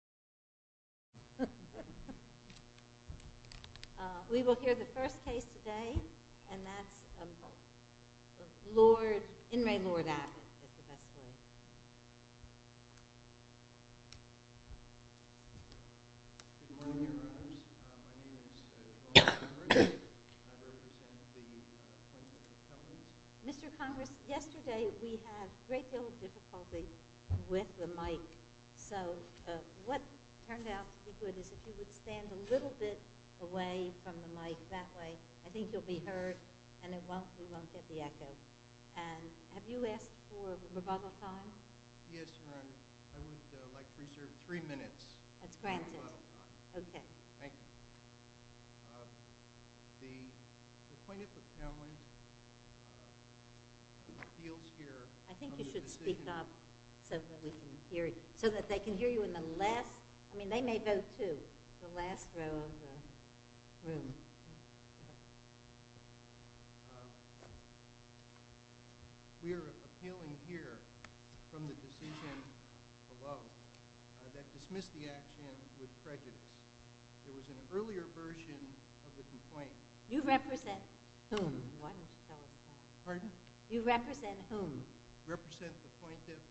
Good morning, dear brothers. My name is Jerome Conrad and I represent the Plaintiff's Appellations. Mr. Congress, yesterday we had a great deal of difficulty with the mic, so what turned out to be good is if you would stand a little bit away from the mic that way, I think you'll be heard and we won't get the echo. And have you asked for rebuttal time? Yes, Your Honor. I would like to reserve three minutes for rebuttal time. Okay. Thank you. The Plaintiff appellant feels here... I think you should speak up so that we can hear you, so that they can hear you in the last, I mean they may vote too, the last row of the room. We are appealing here from the decision below that dismissed the action with prejudice. There was an earlier version of the complaint... You represent whom? Pardon? You represent whom? You represent the plaintiff,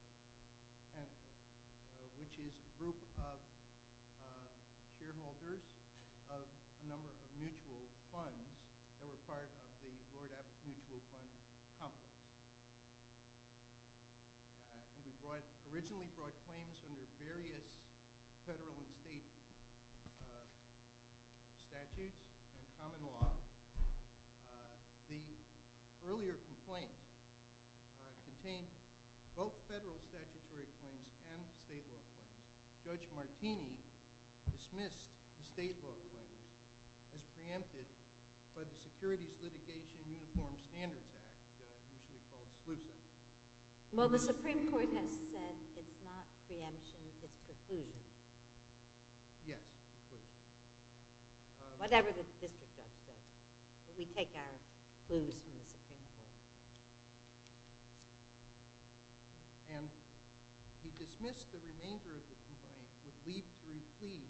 which is a group of shareholders of a number of mutual funds that were part of the Lord Abbott Mutual Fund Complex. We originally brought claims under various federal and state statutes and common law. The earlier complaint contained both federal statutory claims and state law claims. Judge Martini dismissed the state law claims as preempted by the Securities Litigation Uniform Standards Act, usually called SLUSA. Well, the Supreme Court has said it's not preemption, it's preclusion. Yes, preclusion. Whatever the district judge said. We take our clues from the Supreme Court. And he dismissed the remainder of the complaint with leave to replete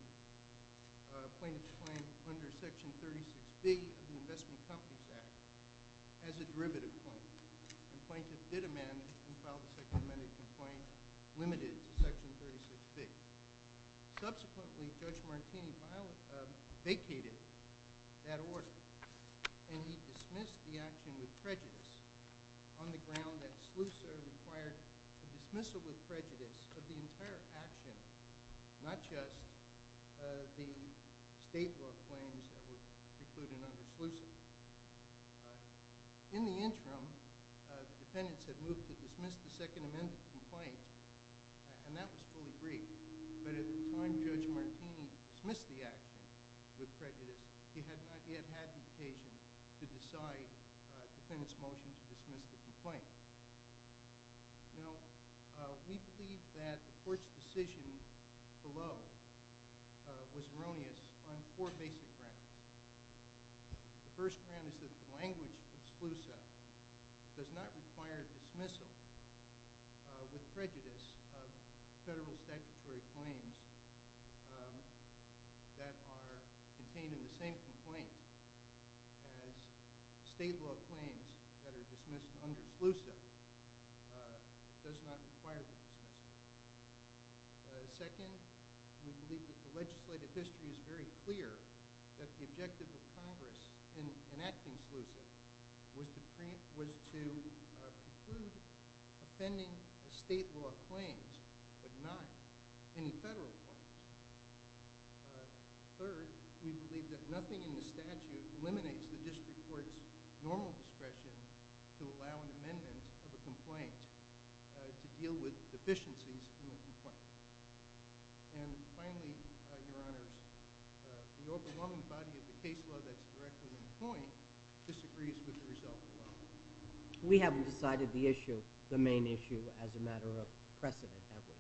a plaintiff's claim under Section 36B of the Investment Companies Act as a derivative claim. The plaintiff did amend and filed a second amended complaint limited to Section 36B. Subsequently, Judge Martini vacated that order and he dismissed the action with prejudice on the ground that SLUSA required a dismissal with prejudice of the entire action, not just the state law claims that were precluded under SLUSA. In the interim, the defendants had moved to dismiss the second amended complaint, and that was fully briefed. But at the time Judge Martini dismissed the action with prejudice, he had not yet had the occasion to decide the defendant's motion to dismiss the complaint. Now, we believe that the court's decision below was erroneous on four basic grounds. The first ground is that the language of SLUSA does not require dismissal with prejudice of federal statutory claims that are contained in the same complaint as state law claims that are dismissed under SLUSA. It does not require the dismissal. Second, we believe that the legislative history is very clear that the objective of Congress in enacting SLUSA was to preclude offending state law claims but not any federal claims. Third, we believe that nothing in the statute eliminates the district court's normal discretion to allow an amendment of a complaint to deal with deficiencies in the complaint. And finally, Your Honors, the overwhelming body of the case law that's directly in point disagrees with the result of the law. We haven't decided the issue, the main issue, as a matter of precedent, have we?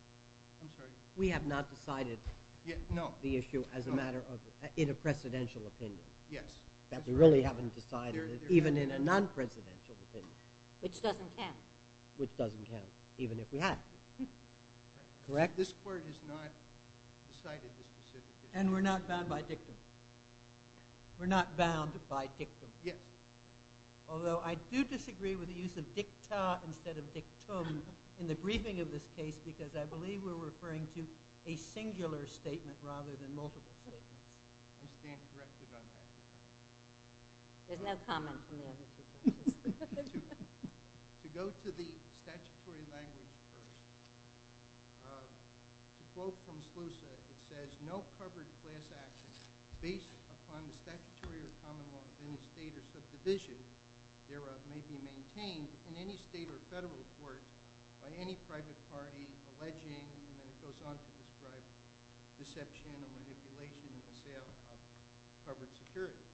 I'm sorry? We have not decided the issue as a matter of, in a precedential opinion. Yes. That we really haven't decided it, even in a non-presidential opinion. Which doesn't count. Which doesn't count, even if we have. Correct? This court has not decided the specific issue. And we're not bound by dictum. We're not bound by dictum. Yes. Although I do disagree with the use of dicta instead of dictum in the briefing of this case because I believe we're referring to a singular statement rather than multiple statements. I stand corrected on that. There's no comment from the other two. To go to the statutory language first, to quote from SLUSA, it says, no covered class action based upon the statutory or common law of any state or subdivision thereof may be maintained in any state or federal court by any private party alleging, and then it goes on to describe, deception or manipulation in the sale of covered securities.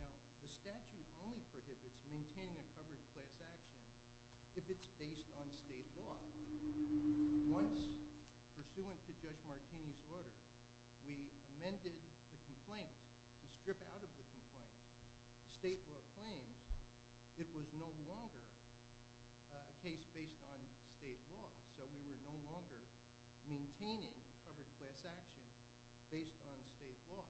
Now, the statute only prohibits maintaining a covered class action if it's based on state law. Once, pursuant to Judge Martini's order, we amended the complaint to strip out of the complaint state law claims it was no longer a case based on state law. So we were no longer maintaining covered class action based on state law.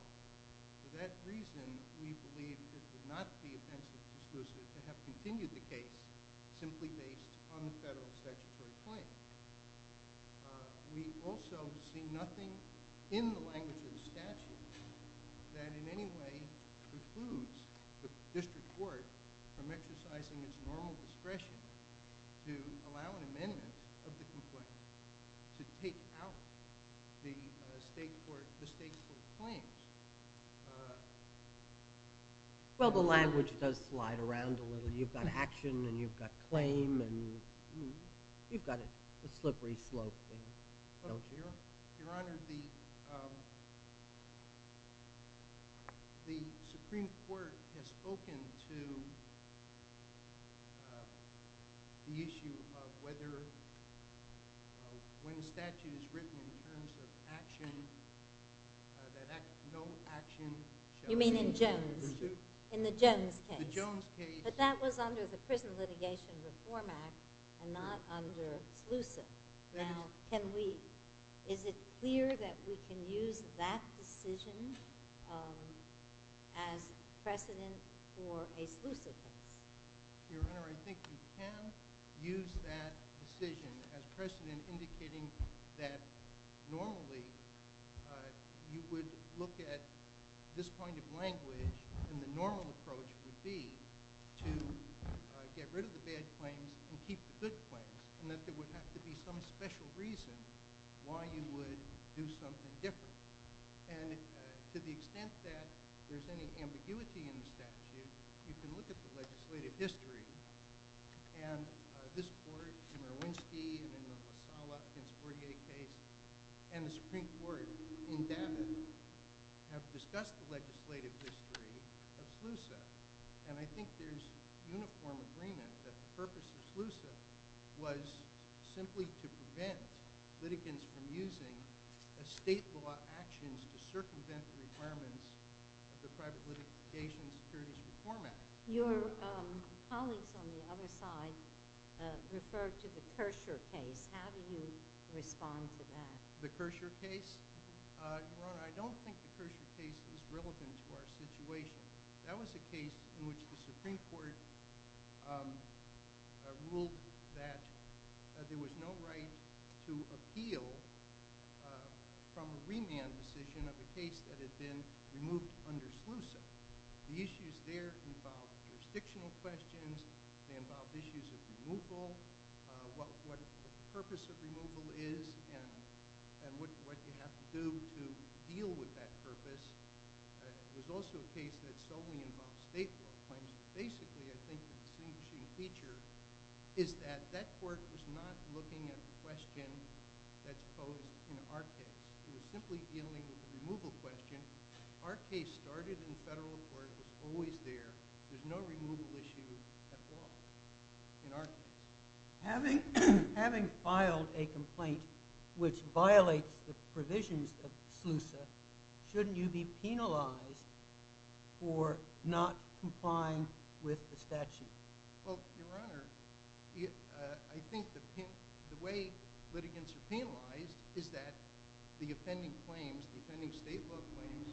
For that reason, we believe it would not be offensive to SLUSA to have continued the case simply based on the federal statutory claim. We also see nothing in the language of the statute that in any way precludes the district court from exercising its normal discretion to allow an amendment of the complaint to take out the state court claims. Well, the language does slide around a little. You've got action, and you've got claim, and you've got a slippery slope. Your Honor, the Supreme Court has spoken to the issue of whether, when a statute is written in terms of action, that no action shall be... You mean in Jones? In the Jones case. The Jones case. But that was under the Prison Litigation Reform Act and not under SLUSA. Now, is it clear that we can use that decision as precedent for a SLUSA case? Your Honor, I think you can use that decision as precedent indicating that normally you would look at this point of language and the normal approach would be to get rid of the bad claims and keep the good claims, and that there would have to be some special reason why you would do something different. And to the extent that there's any ambiguity in the statute, you can look at the legislative history. And this Court in Marwinsky and in the La Sala v. 48 case and the Supreme Court in Davitt have discussed the legislative history of SLUSA. And I think there's uniform agreement that the purpose of SLUSA was simply to prevent litigants from using state law actions to circumvent the requirements of the Private Litigation and Securities Reform Act. Your colleagues on the other side referred to the Kersher case. How do you respond to that? The Kersher case? Your Honor, I don't think the Kersher case is relevant to our situation. That was a case in which the Supreme Court ruled that there was no right to appeal from a remand decision of a case that had been removed under SLUSA. The issues there involved jurisdictional questions. They involved issues of removal, what the purpose of removal is, and what you have to do to deal with that purpose. It was also a case that solely involved state law claims. Basically, I think the distinguishing feature is that that Court was not looking at the question that's posed in our case. It was simply dealing with the removal question. Our case started in federal court. It was always there. There's no removal issue at all in our case. Having filed a complaint which violates the provisions of SLUSA, shouldn't you be penalized for not complying with the statute? Your Honor, I think the way litigants are penalized is that the offending state law claims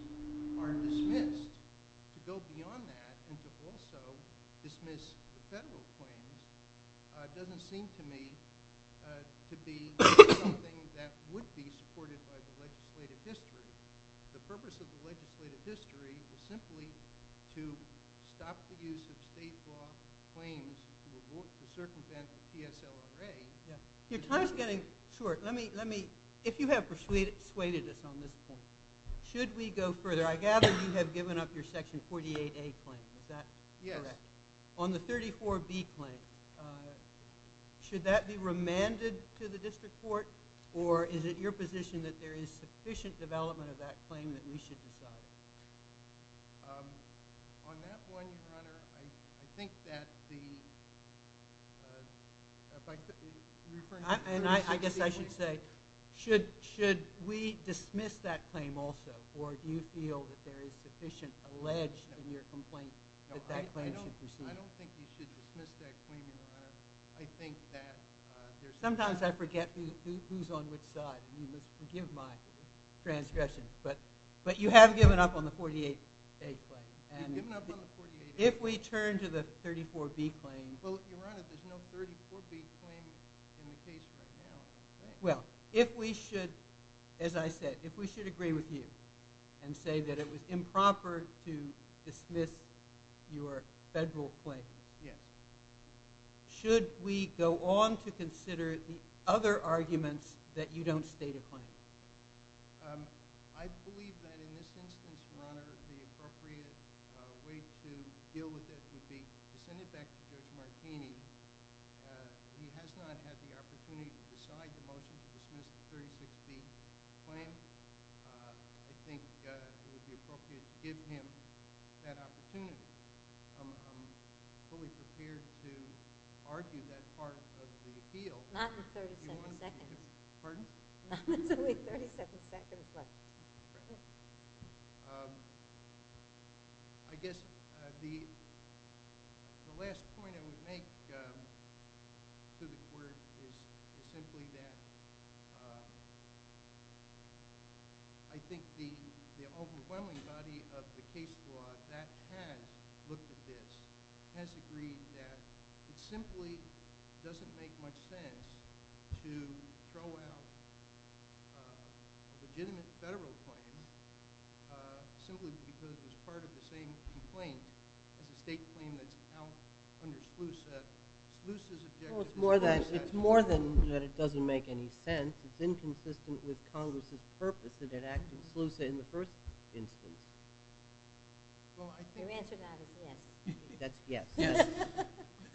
are dismissed. To go beyond that and to also dismiss federal claims doesn't seem to me to be something that would be supported by the legislative history. The purpose of the legislative history is simply to stop the use of state law claims to circumvent the TSLRA. Your time is getting short. If you have persuaded us on this point, should we go further? I gather you have given up your Section 48A claim. Is that correct? Yes. On the 34B claim, should that be remanded to the district court? Or is it your position that there is sufficient development of that claim that we should decide? On that one, Your Honor, I think that the – I guess I should say, should we dismiss that claim also? Or do you feel that there is sufficient alleged in your complaint that that claim should proceed? I don't think you should dismiss that claim, Your Honor. Sometimes I forget who's on which side. You must forgive my transgression. But you have given up on the 48A claim. You've given up on the 48A claim? If we turn to the 34B claim – Well, Your Honor, there's no 34B claim in the case right now. Well, if we should, as I said, if we should agree with you and say that it was improper to dismiss your federal claim, should we go on to consider the other arguments that you don't state a claim? I believe that in this instance, Your Honor, the appropriate way to deal with it would be to send it back to Judge Martini. He has not had the opportunity to decide the motion to dismiss the 36B claim. I think it would be appropriate to give him that opportunity. I'm fully prepared to argue that part of the appeal. Not in 37 seconds. Pardon? Not until we have 37 seconds left. Your Honor, I guess the last point I would make to the court is simply that I think the overwhelming body of the case law that has looked at this has agreed that it simply doesn't make much sense to throw out a legitimate federal claim simply because it was part of the same complaint as a state claim that's out under SLUSA. SLUSA's objective – Well, it's more than that it doesn't make any sense. It's inconsistent with Congress's purpose that it acted SLUSA in the first instance. Well, I think – Your answer to that is yes. That's yes.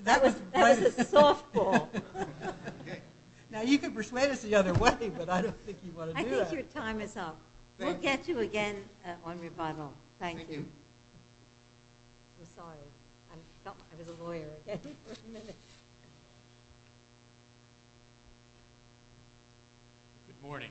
That was a softball. Now, you can persuade us the other way, but I don't think you want to do that. I think your time is up. We'll get you again on rebuttal. Thank you. Thank you. I'm sorry. I felt like I was a lawyer again for a minute. Good morning.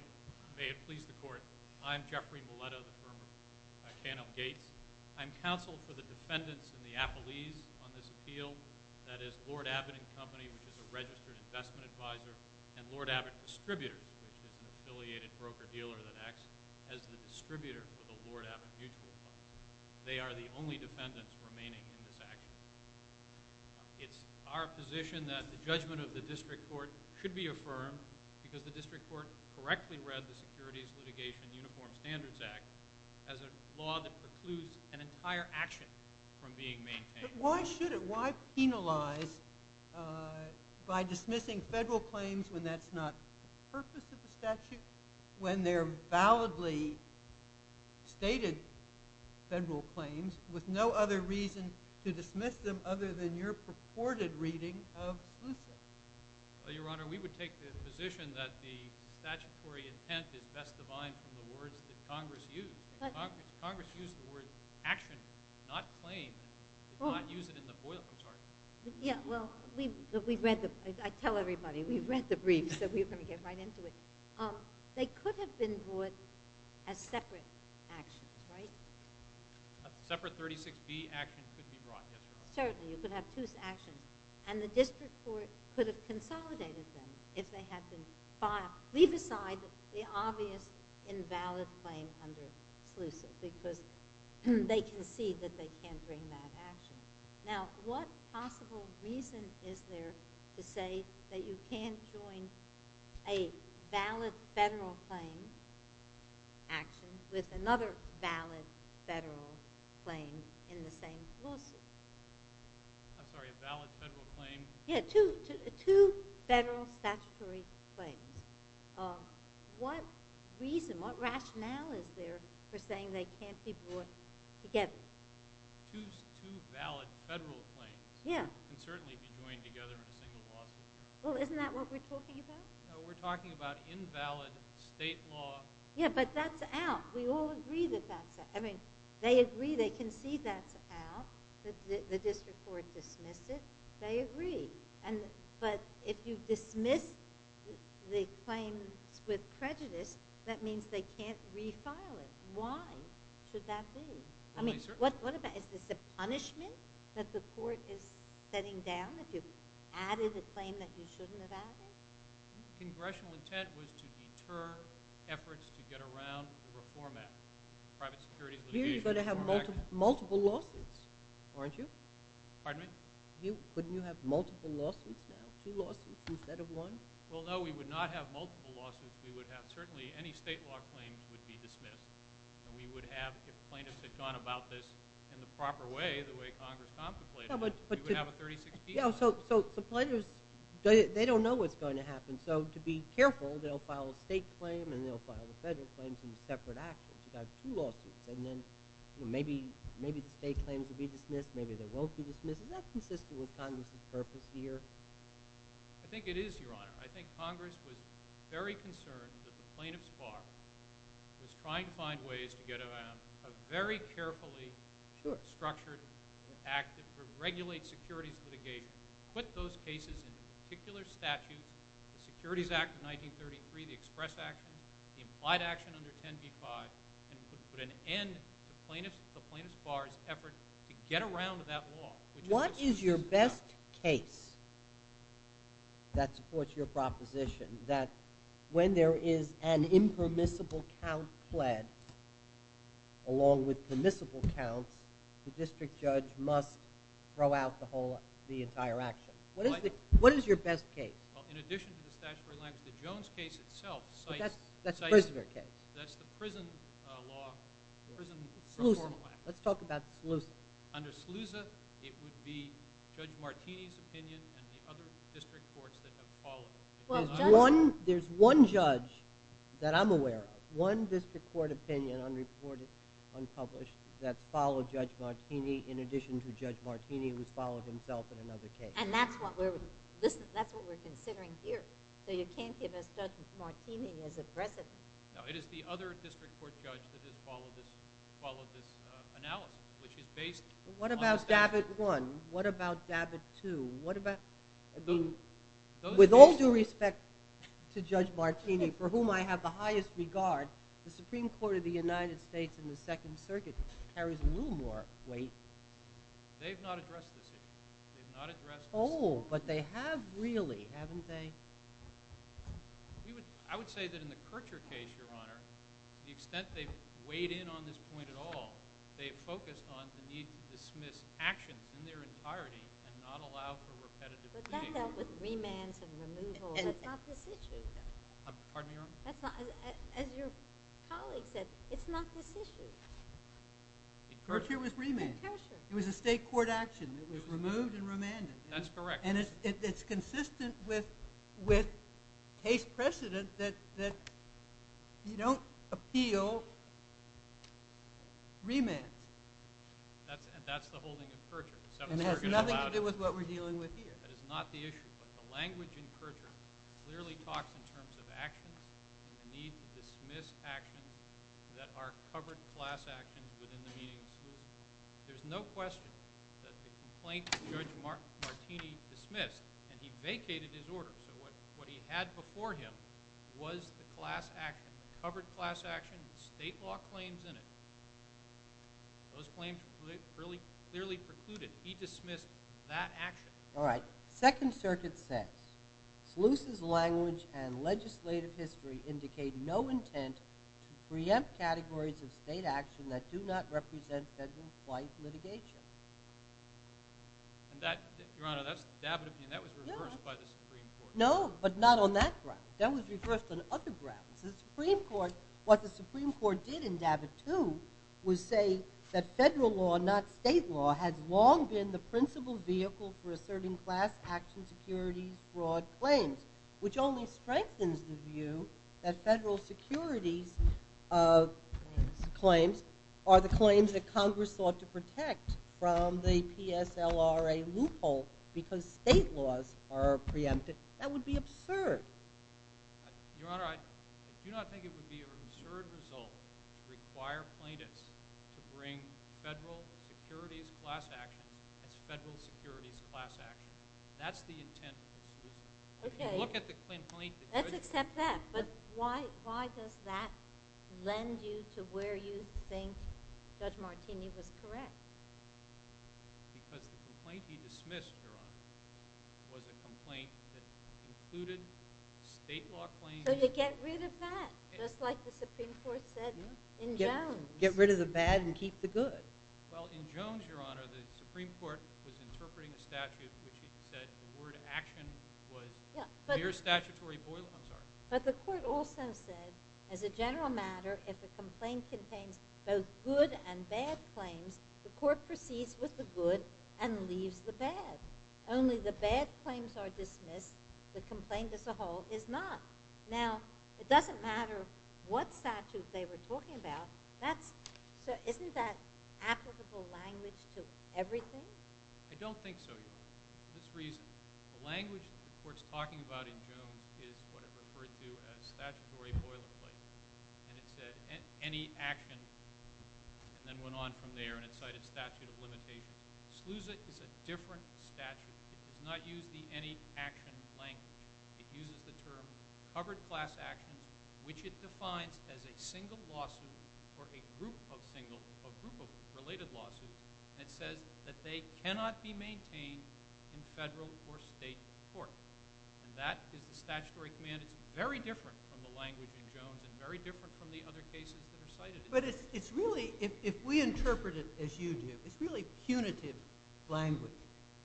May it please the court. I'm Jeffrey Moleto, the firm of Cannell Gates. I'm counsel for the defendants in the appellees on this appeal, that is, Lord Abbott & Company, which is a registered investment advisor, and Lord Abbott Distributors, which is an affiliated broker-dealer that acts as the distributor for the Lord Abbott Mutual Funds. They are the only defendants remaining in this action. It's our position that the judgment of the district court should be affirmed because the district court correctly read the Securities Litigation Uniform Standards Act as a law that precludes an entire action from being maintained. But why should it? Why penalize by dismissing federal claims when that's not the purpose of the statute, when they're validly stated federal claims with no other reason to dismiss them other than your purported reading of SLUSA? Your Honor, we would take the position that the statutory intent is best defined from the words that Congress used. Congress used the word action, not claim. They did not use it in the FOIL. I'm sorry. Yeah, well, I tell everybody, we've read the briefs, so we're going to get right into it. They could have been brought as separate actions, right? A separate 36B action could be brought, yes, Your Honor. Certainly. You could have two actions. And the district court could have consolidated them if they had been filed. Now, leave aside the obvious invalid claim under SLUSA because they concede that they can't bring that action. Now, what possible reason is there to say that you can't join a valid federal claim action with another valid federal claim in the same SLUSA? I'm sorry, a valid federal claim? Yeah, two federal statutory claims. What reason, what rationale is there for saying they can't be brought together? Two valid federal claims can certainly be joined together in a single lawsuit. Well, isn't that what we're talking about? No, we're talking about invalid state law. Yeah, but that's out. We all agree that that's out. I mean, they agree they concede that's out. The district court dismissed it. They agree. But if you dismiss the claims with prejudice, that means they can't refile it. Why should that be? I mean, what about is this a punishment that the court is setting down if you've added a claim that you shouldn't have added? Congressional intent was to deter efforts to get around the reform act, private security litigation reform act. You're going to have multiple lawsuits, aren't you? Pardon me? Couldn't you have multiple lawsuits now, two lawsuits instead of one? Well, no, we would not have multiple lawsuits. We would have certainly any state law claims would be dismissed. And we would have, if plaintiffs had gone about this in the proper way, the way Congress contemplated it, we would have a 36-piece lawsuit. Yeah, so the plaintiffs, they don't know what's going to happen. So to be careful, they'll file a state claim and they'll file a federal claim, some separate actions. You've got two lawsuits, and then maybe the state claims will be dismissed, maybe they won't be dismissed. Is that consistent with Congress's purpose here? I think it is, Your Honor. I think Congress was very concerned that the plaintiff's bar was trying to find ways to get around a very carefully structured act that would regulate securities litigation, put those cases in particular statutes, the Securities Act of 1933, the express actions, the implied action under 10b-5, and put an end to the plaintiff's bar's effort to get around that law. What is your best case that supports your proposition that when there is an impermissible count pled along with permissible counts, the district judge must throw out the entire action? What is your best case? Well, in addition to the statutory language, the Jones case itself cites— But that's the prisoner case. That's the prison law, prison reform law. Let's talk about SLUSA. Under SLUSA, it would be Judge Martini's opinion and the other district courts that have followed it. There's one judge that I'm aware of, one district court opinion, unreported, unpublished, that's followed Judge Martini. In addition to Judge Martini, who's followed himself in another case. And that's what we're considering here. So you can't give us Judge Martini as a precedent. No, it is the other district court judge that has followed this analysis, which is based on— What about DABIT I? What about DABIT II? What about— With all due respect to Judge Martini, for whom I have the highest regard, the Supreme Court of the United States in the Second Circuit carries a little more weight. They've not addressed this issue. They've not addressed this issue. Oh, but they have really, haven't they? I would say that in the Kirchherr case, Your Honor, the extent they've weighed in on this point at all, they've focused on the need to dismiss actions in their entirety and not allow for repetitive— But that dealt with remands and removal. That's not this issue. Pardon me, Your Honor? As your colleague said, it's not this issue. Kirchherr was remanded. It was a state court action. It was removed and remanded. That's correct. And it's consistent with case precedent that you don't appeal remands. That's the holding of Kirchherr. And it has nothing to do with what we're dealing with here. That is not the issue. But the language in Kirchherr clearly talks in terms of actions and the need to dismiss actions that are covered class actions within the meaning of exclusion. There's no question that the complaint that Judge Martini dismissed, and he vacated his order, so what he had before him was the class action, the covered class action, state law claims in it. Those claims clearly precluded. He dismissed that action. All right. Second Circuit says, Sluice's language and legislative history indicate no intent to preempt categories of state action that do not represent federal flight litigation. Your Honor, that was reversed by the Supreme Court. No, but not on that ground. That was reversed on other grounds. What the Supreme Court did in Davit II was say that federal law, not state law, has long been the principal vehicle for asserting class action securities broad claims, which only strengthens the view that federal securities claims are the claims that Congress sought to protect from the PSLRA loophole because state laws are preempted. That would be absurd. Your Honor, I do not think it would be an absurd result to require plaintiffs to bring federal securities class actions as federal securities class actions. That's the intent of the Sluice Act. Okay. Let's accept that, but why does that lend you to where you think Judge Martini was correct? Because the complaint he dismissed, Your Honor, was a complaint that included state law claims. So you get rid of that, just like the Supreme Court said in Jones. Get rid of the bad and keep the good. Well, in Jones, Your Honor, the Supreme Court was interpreting a statute in which it said the word action was mere statutory boilerplate. But the court also said, as a general matter, if a complaint contains both good and bad claims, the court proceeds with the good and leaves the bad. Only the bad claims are dismissed. The complaint as a whole is not. Now, it doesn't matter what statute they were talking about. So isn't that applicable language to everything? I don't think so, Your Honor, for this reason. The language the court's talking about in Jones is what it referred to as statutory boilerplate, and it said any action, and then went on from there, and it cited statute of limitations. Sluice is a different statute. It does not use the any action language. It uses the term covered class actions, which it defines as a single lawsuit or a group of related lawsuits, and it says that they cannot be maintained in federal or state court. And that is the statutory command. It's very different from the language in Jones and very different from the other cases that are cited. But it's really, if we interpret it as you do, it's really punitive language.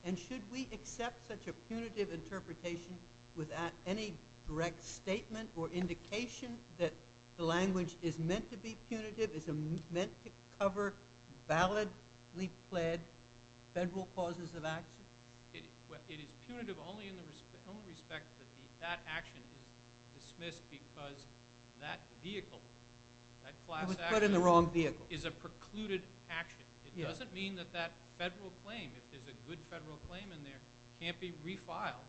And should we accept such a punitive interpretation without any direct statement or indication that the language is meant to be punitive, is meant to cover validly pled federal causes of action? It is punitive only in the respect that that action is dismissed because that vehicle, that class action... It was put in the wrong vehicle. ...is a precluded action. It doesn't mean that that federal claim, if there's a good federal claim in there, can't be refiled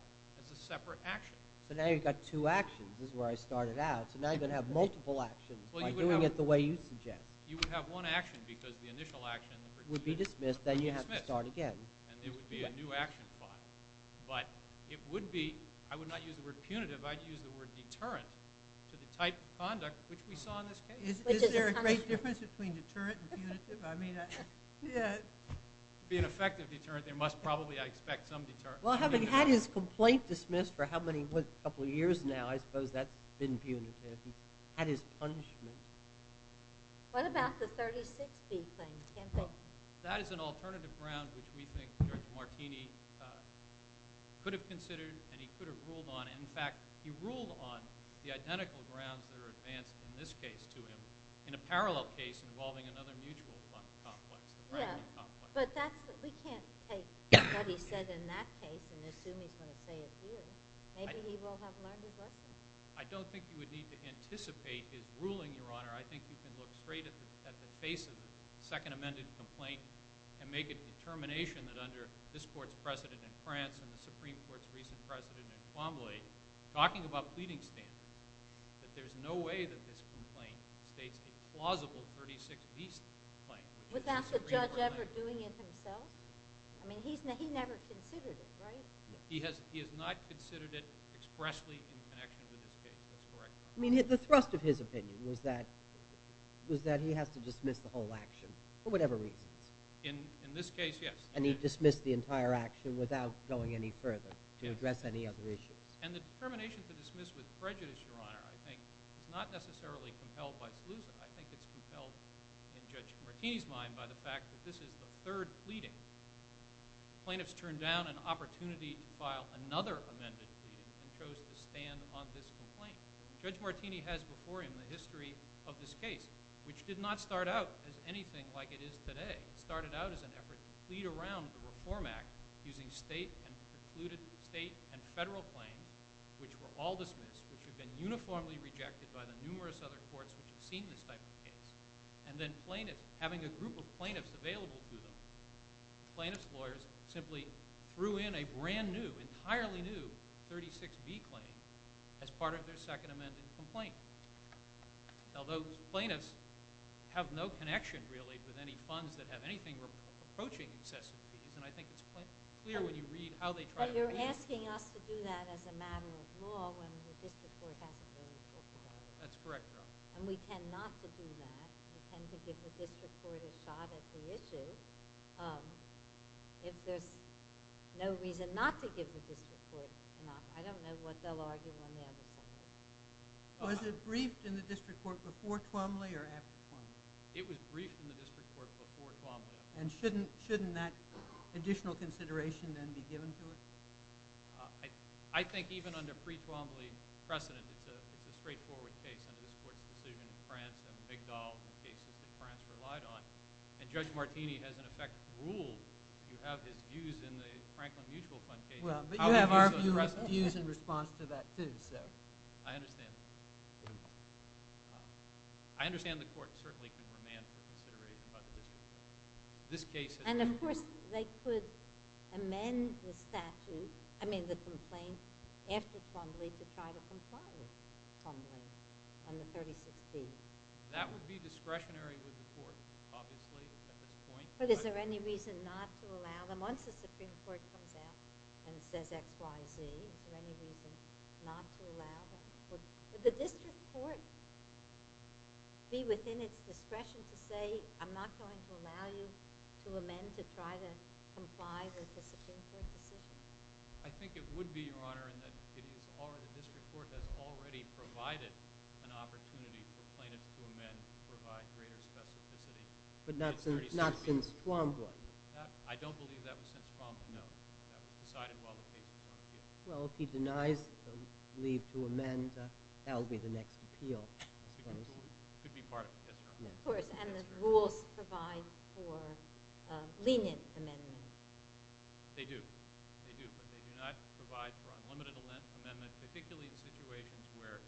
as a separate action. So now you've got two actions. This is where I started out. So now you're going to have multiple actions by doing it the way you suggest. You would have one action because the initial action... ...would be dismissed. Then you'd have to start again. And there would be a new action filed. But it would be... I would not use the word punitive. I'd use the word deterrent to the type of conduct which we saw in this case. Is there a great difference between deterrent and punitive? To be an effective deterrent, there must probably, I expect, be some deterrent. Well, having had his complaint dismissed for how many years now, I suppose that's been punitive. He's had his punishment. What about the 36B claim? That is an alternative ground which we think Judge Martini could have considered and he could have ruled on. In fact, he ruled on the identical grounds that are advanced in this case to him in a parallel case involving another mutual complex. But we can't take what he said in that case and assume he's going to say it here. Maybe he will have learned his lesson. I don't think you would need to anticipate his ruling, Your Honor. I think you can look straight at the face of the second amended complaint and make a determination that under this court's precedent in France and the Supreme Court's recent precedent in Cromwelly, talking about pleading standards, that there's no way that this complaint states a plausible 36B complaint. Without the judge ever doing it himself? I mean, he never considered it, right? He has not considered it expressly in connection with this case. That's correct, Your Honor. I mean, the thrust of his opinion was that he has to dismiss the whole action for whatever reasons. In this case, yes. And he dismissed the entire action without going any further to address any other issues. And the determination to dismiss with prejudice, Your Honor, I think, is not necessarily compelled by Selusa. I think it's compelled, in Judge Martini's mind, by the fact that this is the third pleading. Plaintiffs turned down an opportunity to file another amended pleading and chose to stand on this complaint. Judge Martini has before him the history of this case, which did not start out as anything like it is today. It started out as an effort to plead around the Reform Act using state and federal claims, which were all dismissed, which had been uniformly rejected by the numerous other courts which had seen this type of case. And then plaintiffs, having a group of plaintiffs available to them, plaintiffs' lawyers simply threw in a brand new, entirely new 36B claim as part of their second amended complaint. Now, those plaintiffs have no connection, really, with any funds that have anything approaching excessive fees, and I think it's clear when you read how they try to... But you're asking us to do that as a matter of law when the district court hasn't really talked about it. That's correct, Your Honor. And we tend not to do that. We tend to give the district court a shot at the issue. If there's no reason not to give the district court an offer, I don't know what they'll argue on the other side of it. Was it briefed in the district court before Twombly or after Twombly? It was briefed in the district court before Twombly. And shouldn't that additional consideration then be given to it? I think even under pre-Twombly precedent, it's a straightforward case under this court's decision in France and Migdal in cases that France relied on. And Judge Martini has, in effect, ruled, if you have his views in the Franklin Mutual Fund case... Well, but you have our views in response to that too, so... I understand that. I understand the court certainly could remand for consideration by the district court. And, of course, they could amend the statute, I mean the complaint, after Twombly to try to comply with Twombly on the 36D. That would be discretionary with the court, obviously, at this point. But is there any reason not to allow them? Once the Supreme Court comes out and says XYZ, is there any reason not to allow them? Would the district court be within its discretion to say, I'm not going to allow you to amend to try to comply with the Supreme Court decision? I think it would be, Your Honor, and the district court has already provided an opportunity for plaintiffs to amend to provide greater specificity. But not since Twombly? I don't believe that was since Twombly, no. That was decided while the case was on appeal. Well, if he denies the leave to amend, that will be the next appeal, I suppose. It could be part of the history. Of course, and the rules provide for lenient amendments. They do. They do, but they do not provide for unlimited amendments, particularly in situations where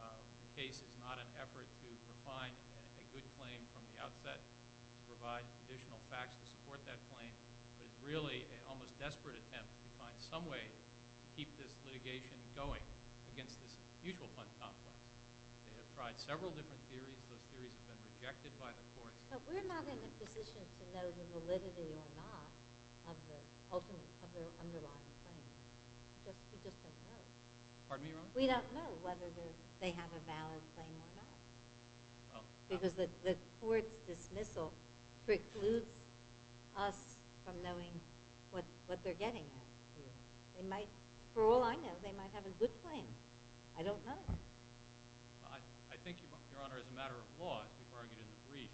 the case is not an effort to refine a good claim from the outset, to provide additional facts to support that claim. But it's really an almost desperate attempt to find some way to keep this litigation going against this mutual fund complex. They have tried several different theories. Those theories have been rejected by the courts. But we're not in a position to know the validity or not of the underlying claim. We just don't know. Pardon me, Your Honor? We don't know whether they have a valid claim or not. Because the court's dismissal precludes us from knowing what they're getting at. They might, for all I know, they might have a good claim. I don't know. I think, Your Honor, as a matter of law, as we've argued in the brief,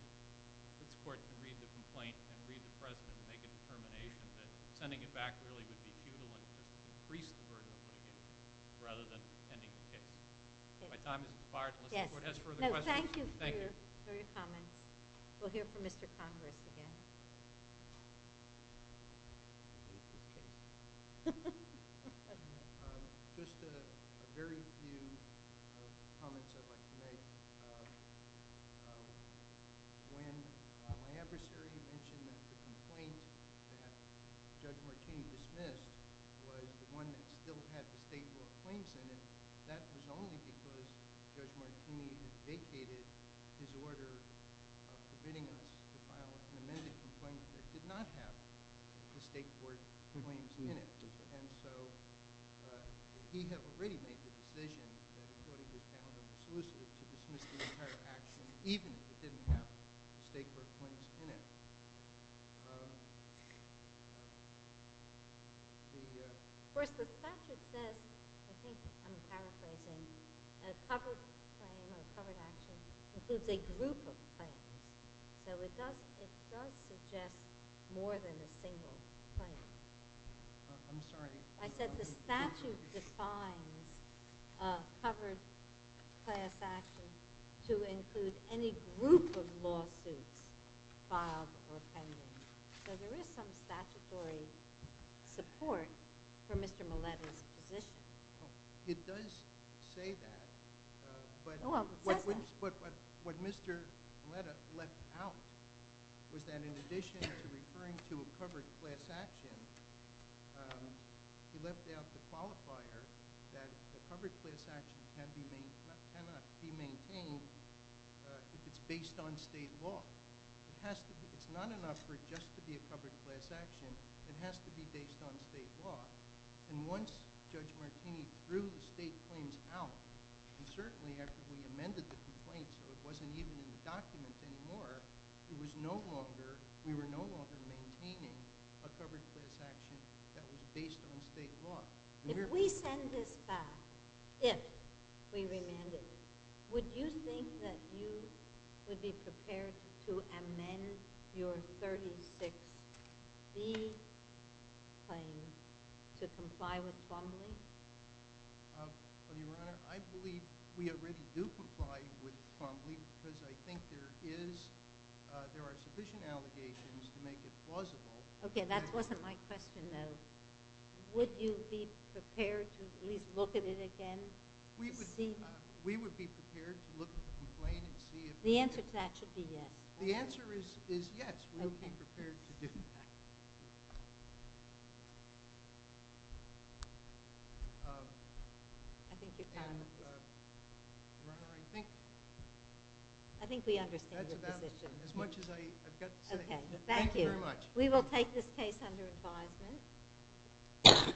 this court can read the complaint and read the precedent and make a determination that sending it back really would be futile and just increase the burden of litigation rather than ending the case. If my time has expired, unless the court has further questions, thank you. No, thank you for your comments. We'll hear from Mr. Congress again. Just a very few comments I'd like to make. When my adversary mentioned that the complaint that Judge Martini dismissed was the one that still had the state law claims in it, that was only because Judge Martini had vacated his order of permitting us to file an amended complaint that did not have the state court claims in it. And so he had already made the decision that the court had just found it exclusive to dismiss the entire action even if it didn't have the state court claims in it. Of course, the statute says, I think I'm paraphrasing, that a covered claim or a covered action includes a group of claims. So it does suggest more than a single claim. I'm sorry. I said the statute defines a covered class action to include any group of lawsuits filed or pending. So there is some statutory support for Mr. Millett's position. It does say that. But what Mr. Millett left out was that in addition to referring to a covered class action, he left out the qualifier that a covered class action cannot be maintained if it's based on state law. It's not enough for it just to be a covered class action. It has to be based on state law. And once Judge Martini threw the state claims out, and certainly after we amended the complaint so it wasn't even in the document anymore, we were no longer maintaining a covered class action that was based on state law. If we send this back, if we remand it, would you think that you would be prepared to amend your 36B claim to comply with Twombly? Your Honor, I believe we already do comply with Twombly because I think there are sufficient allegations to make it plausible. Okay, that wasn't my question, though. Would you be prepared to at least look at it again? We would be prepared to look at the complaint. The answer to that should be yes. The answer is yes, we would be prepared to do that. I think we understand your position. As much as I've got to say. Thank you very much. We will take this case under advisement.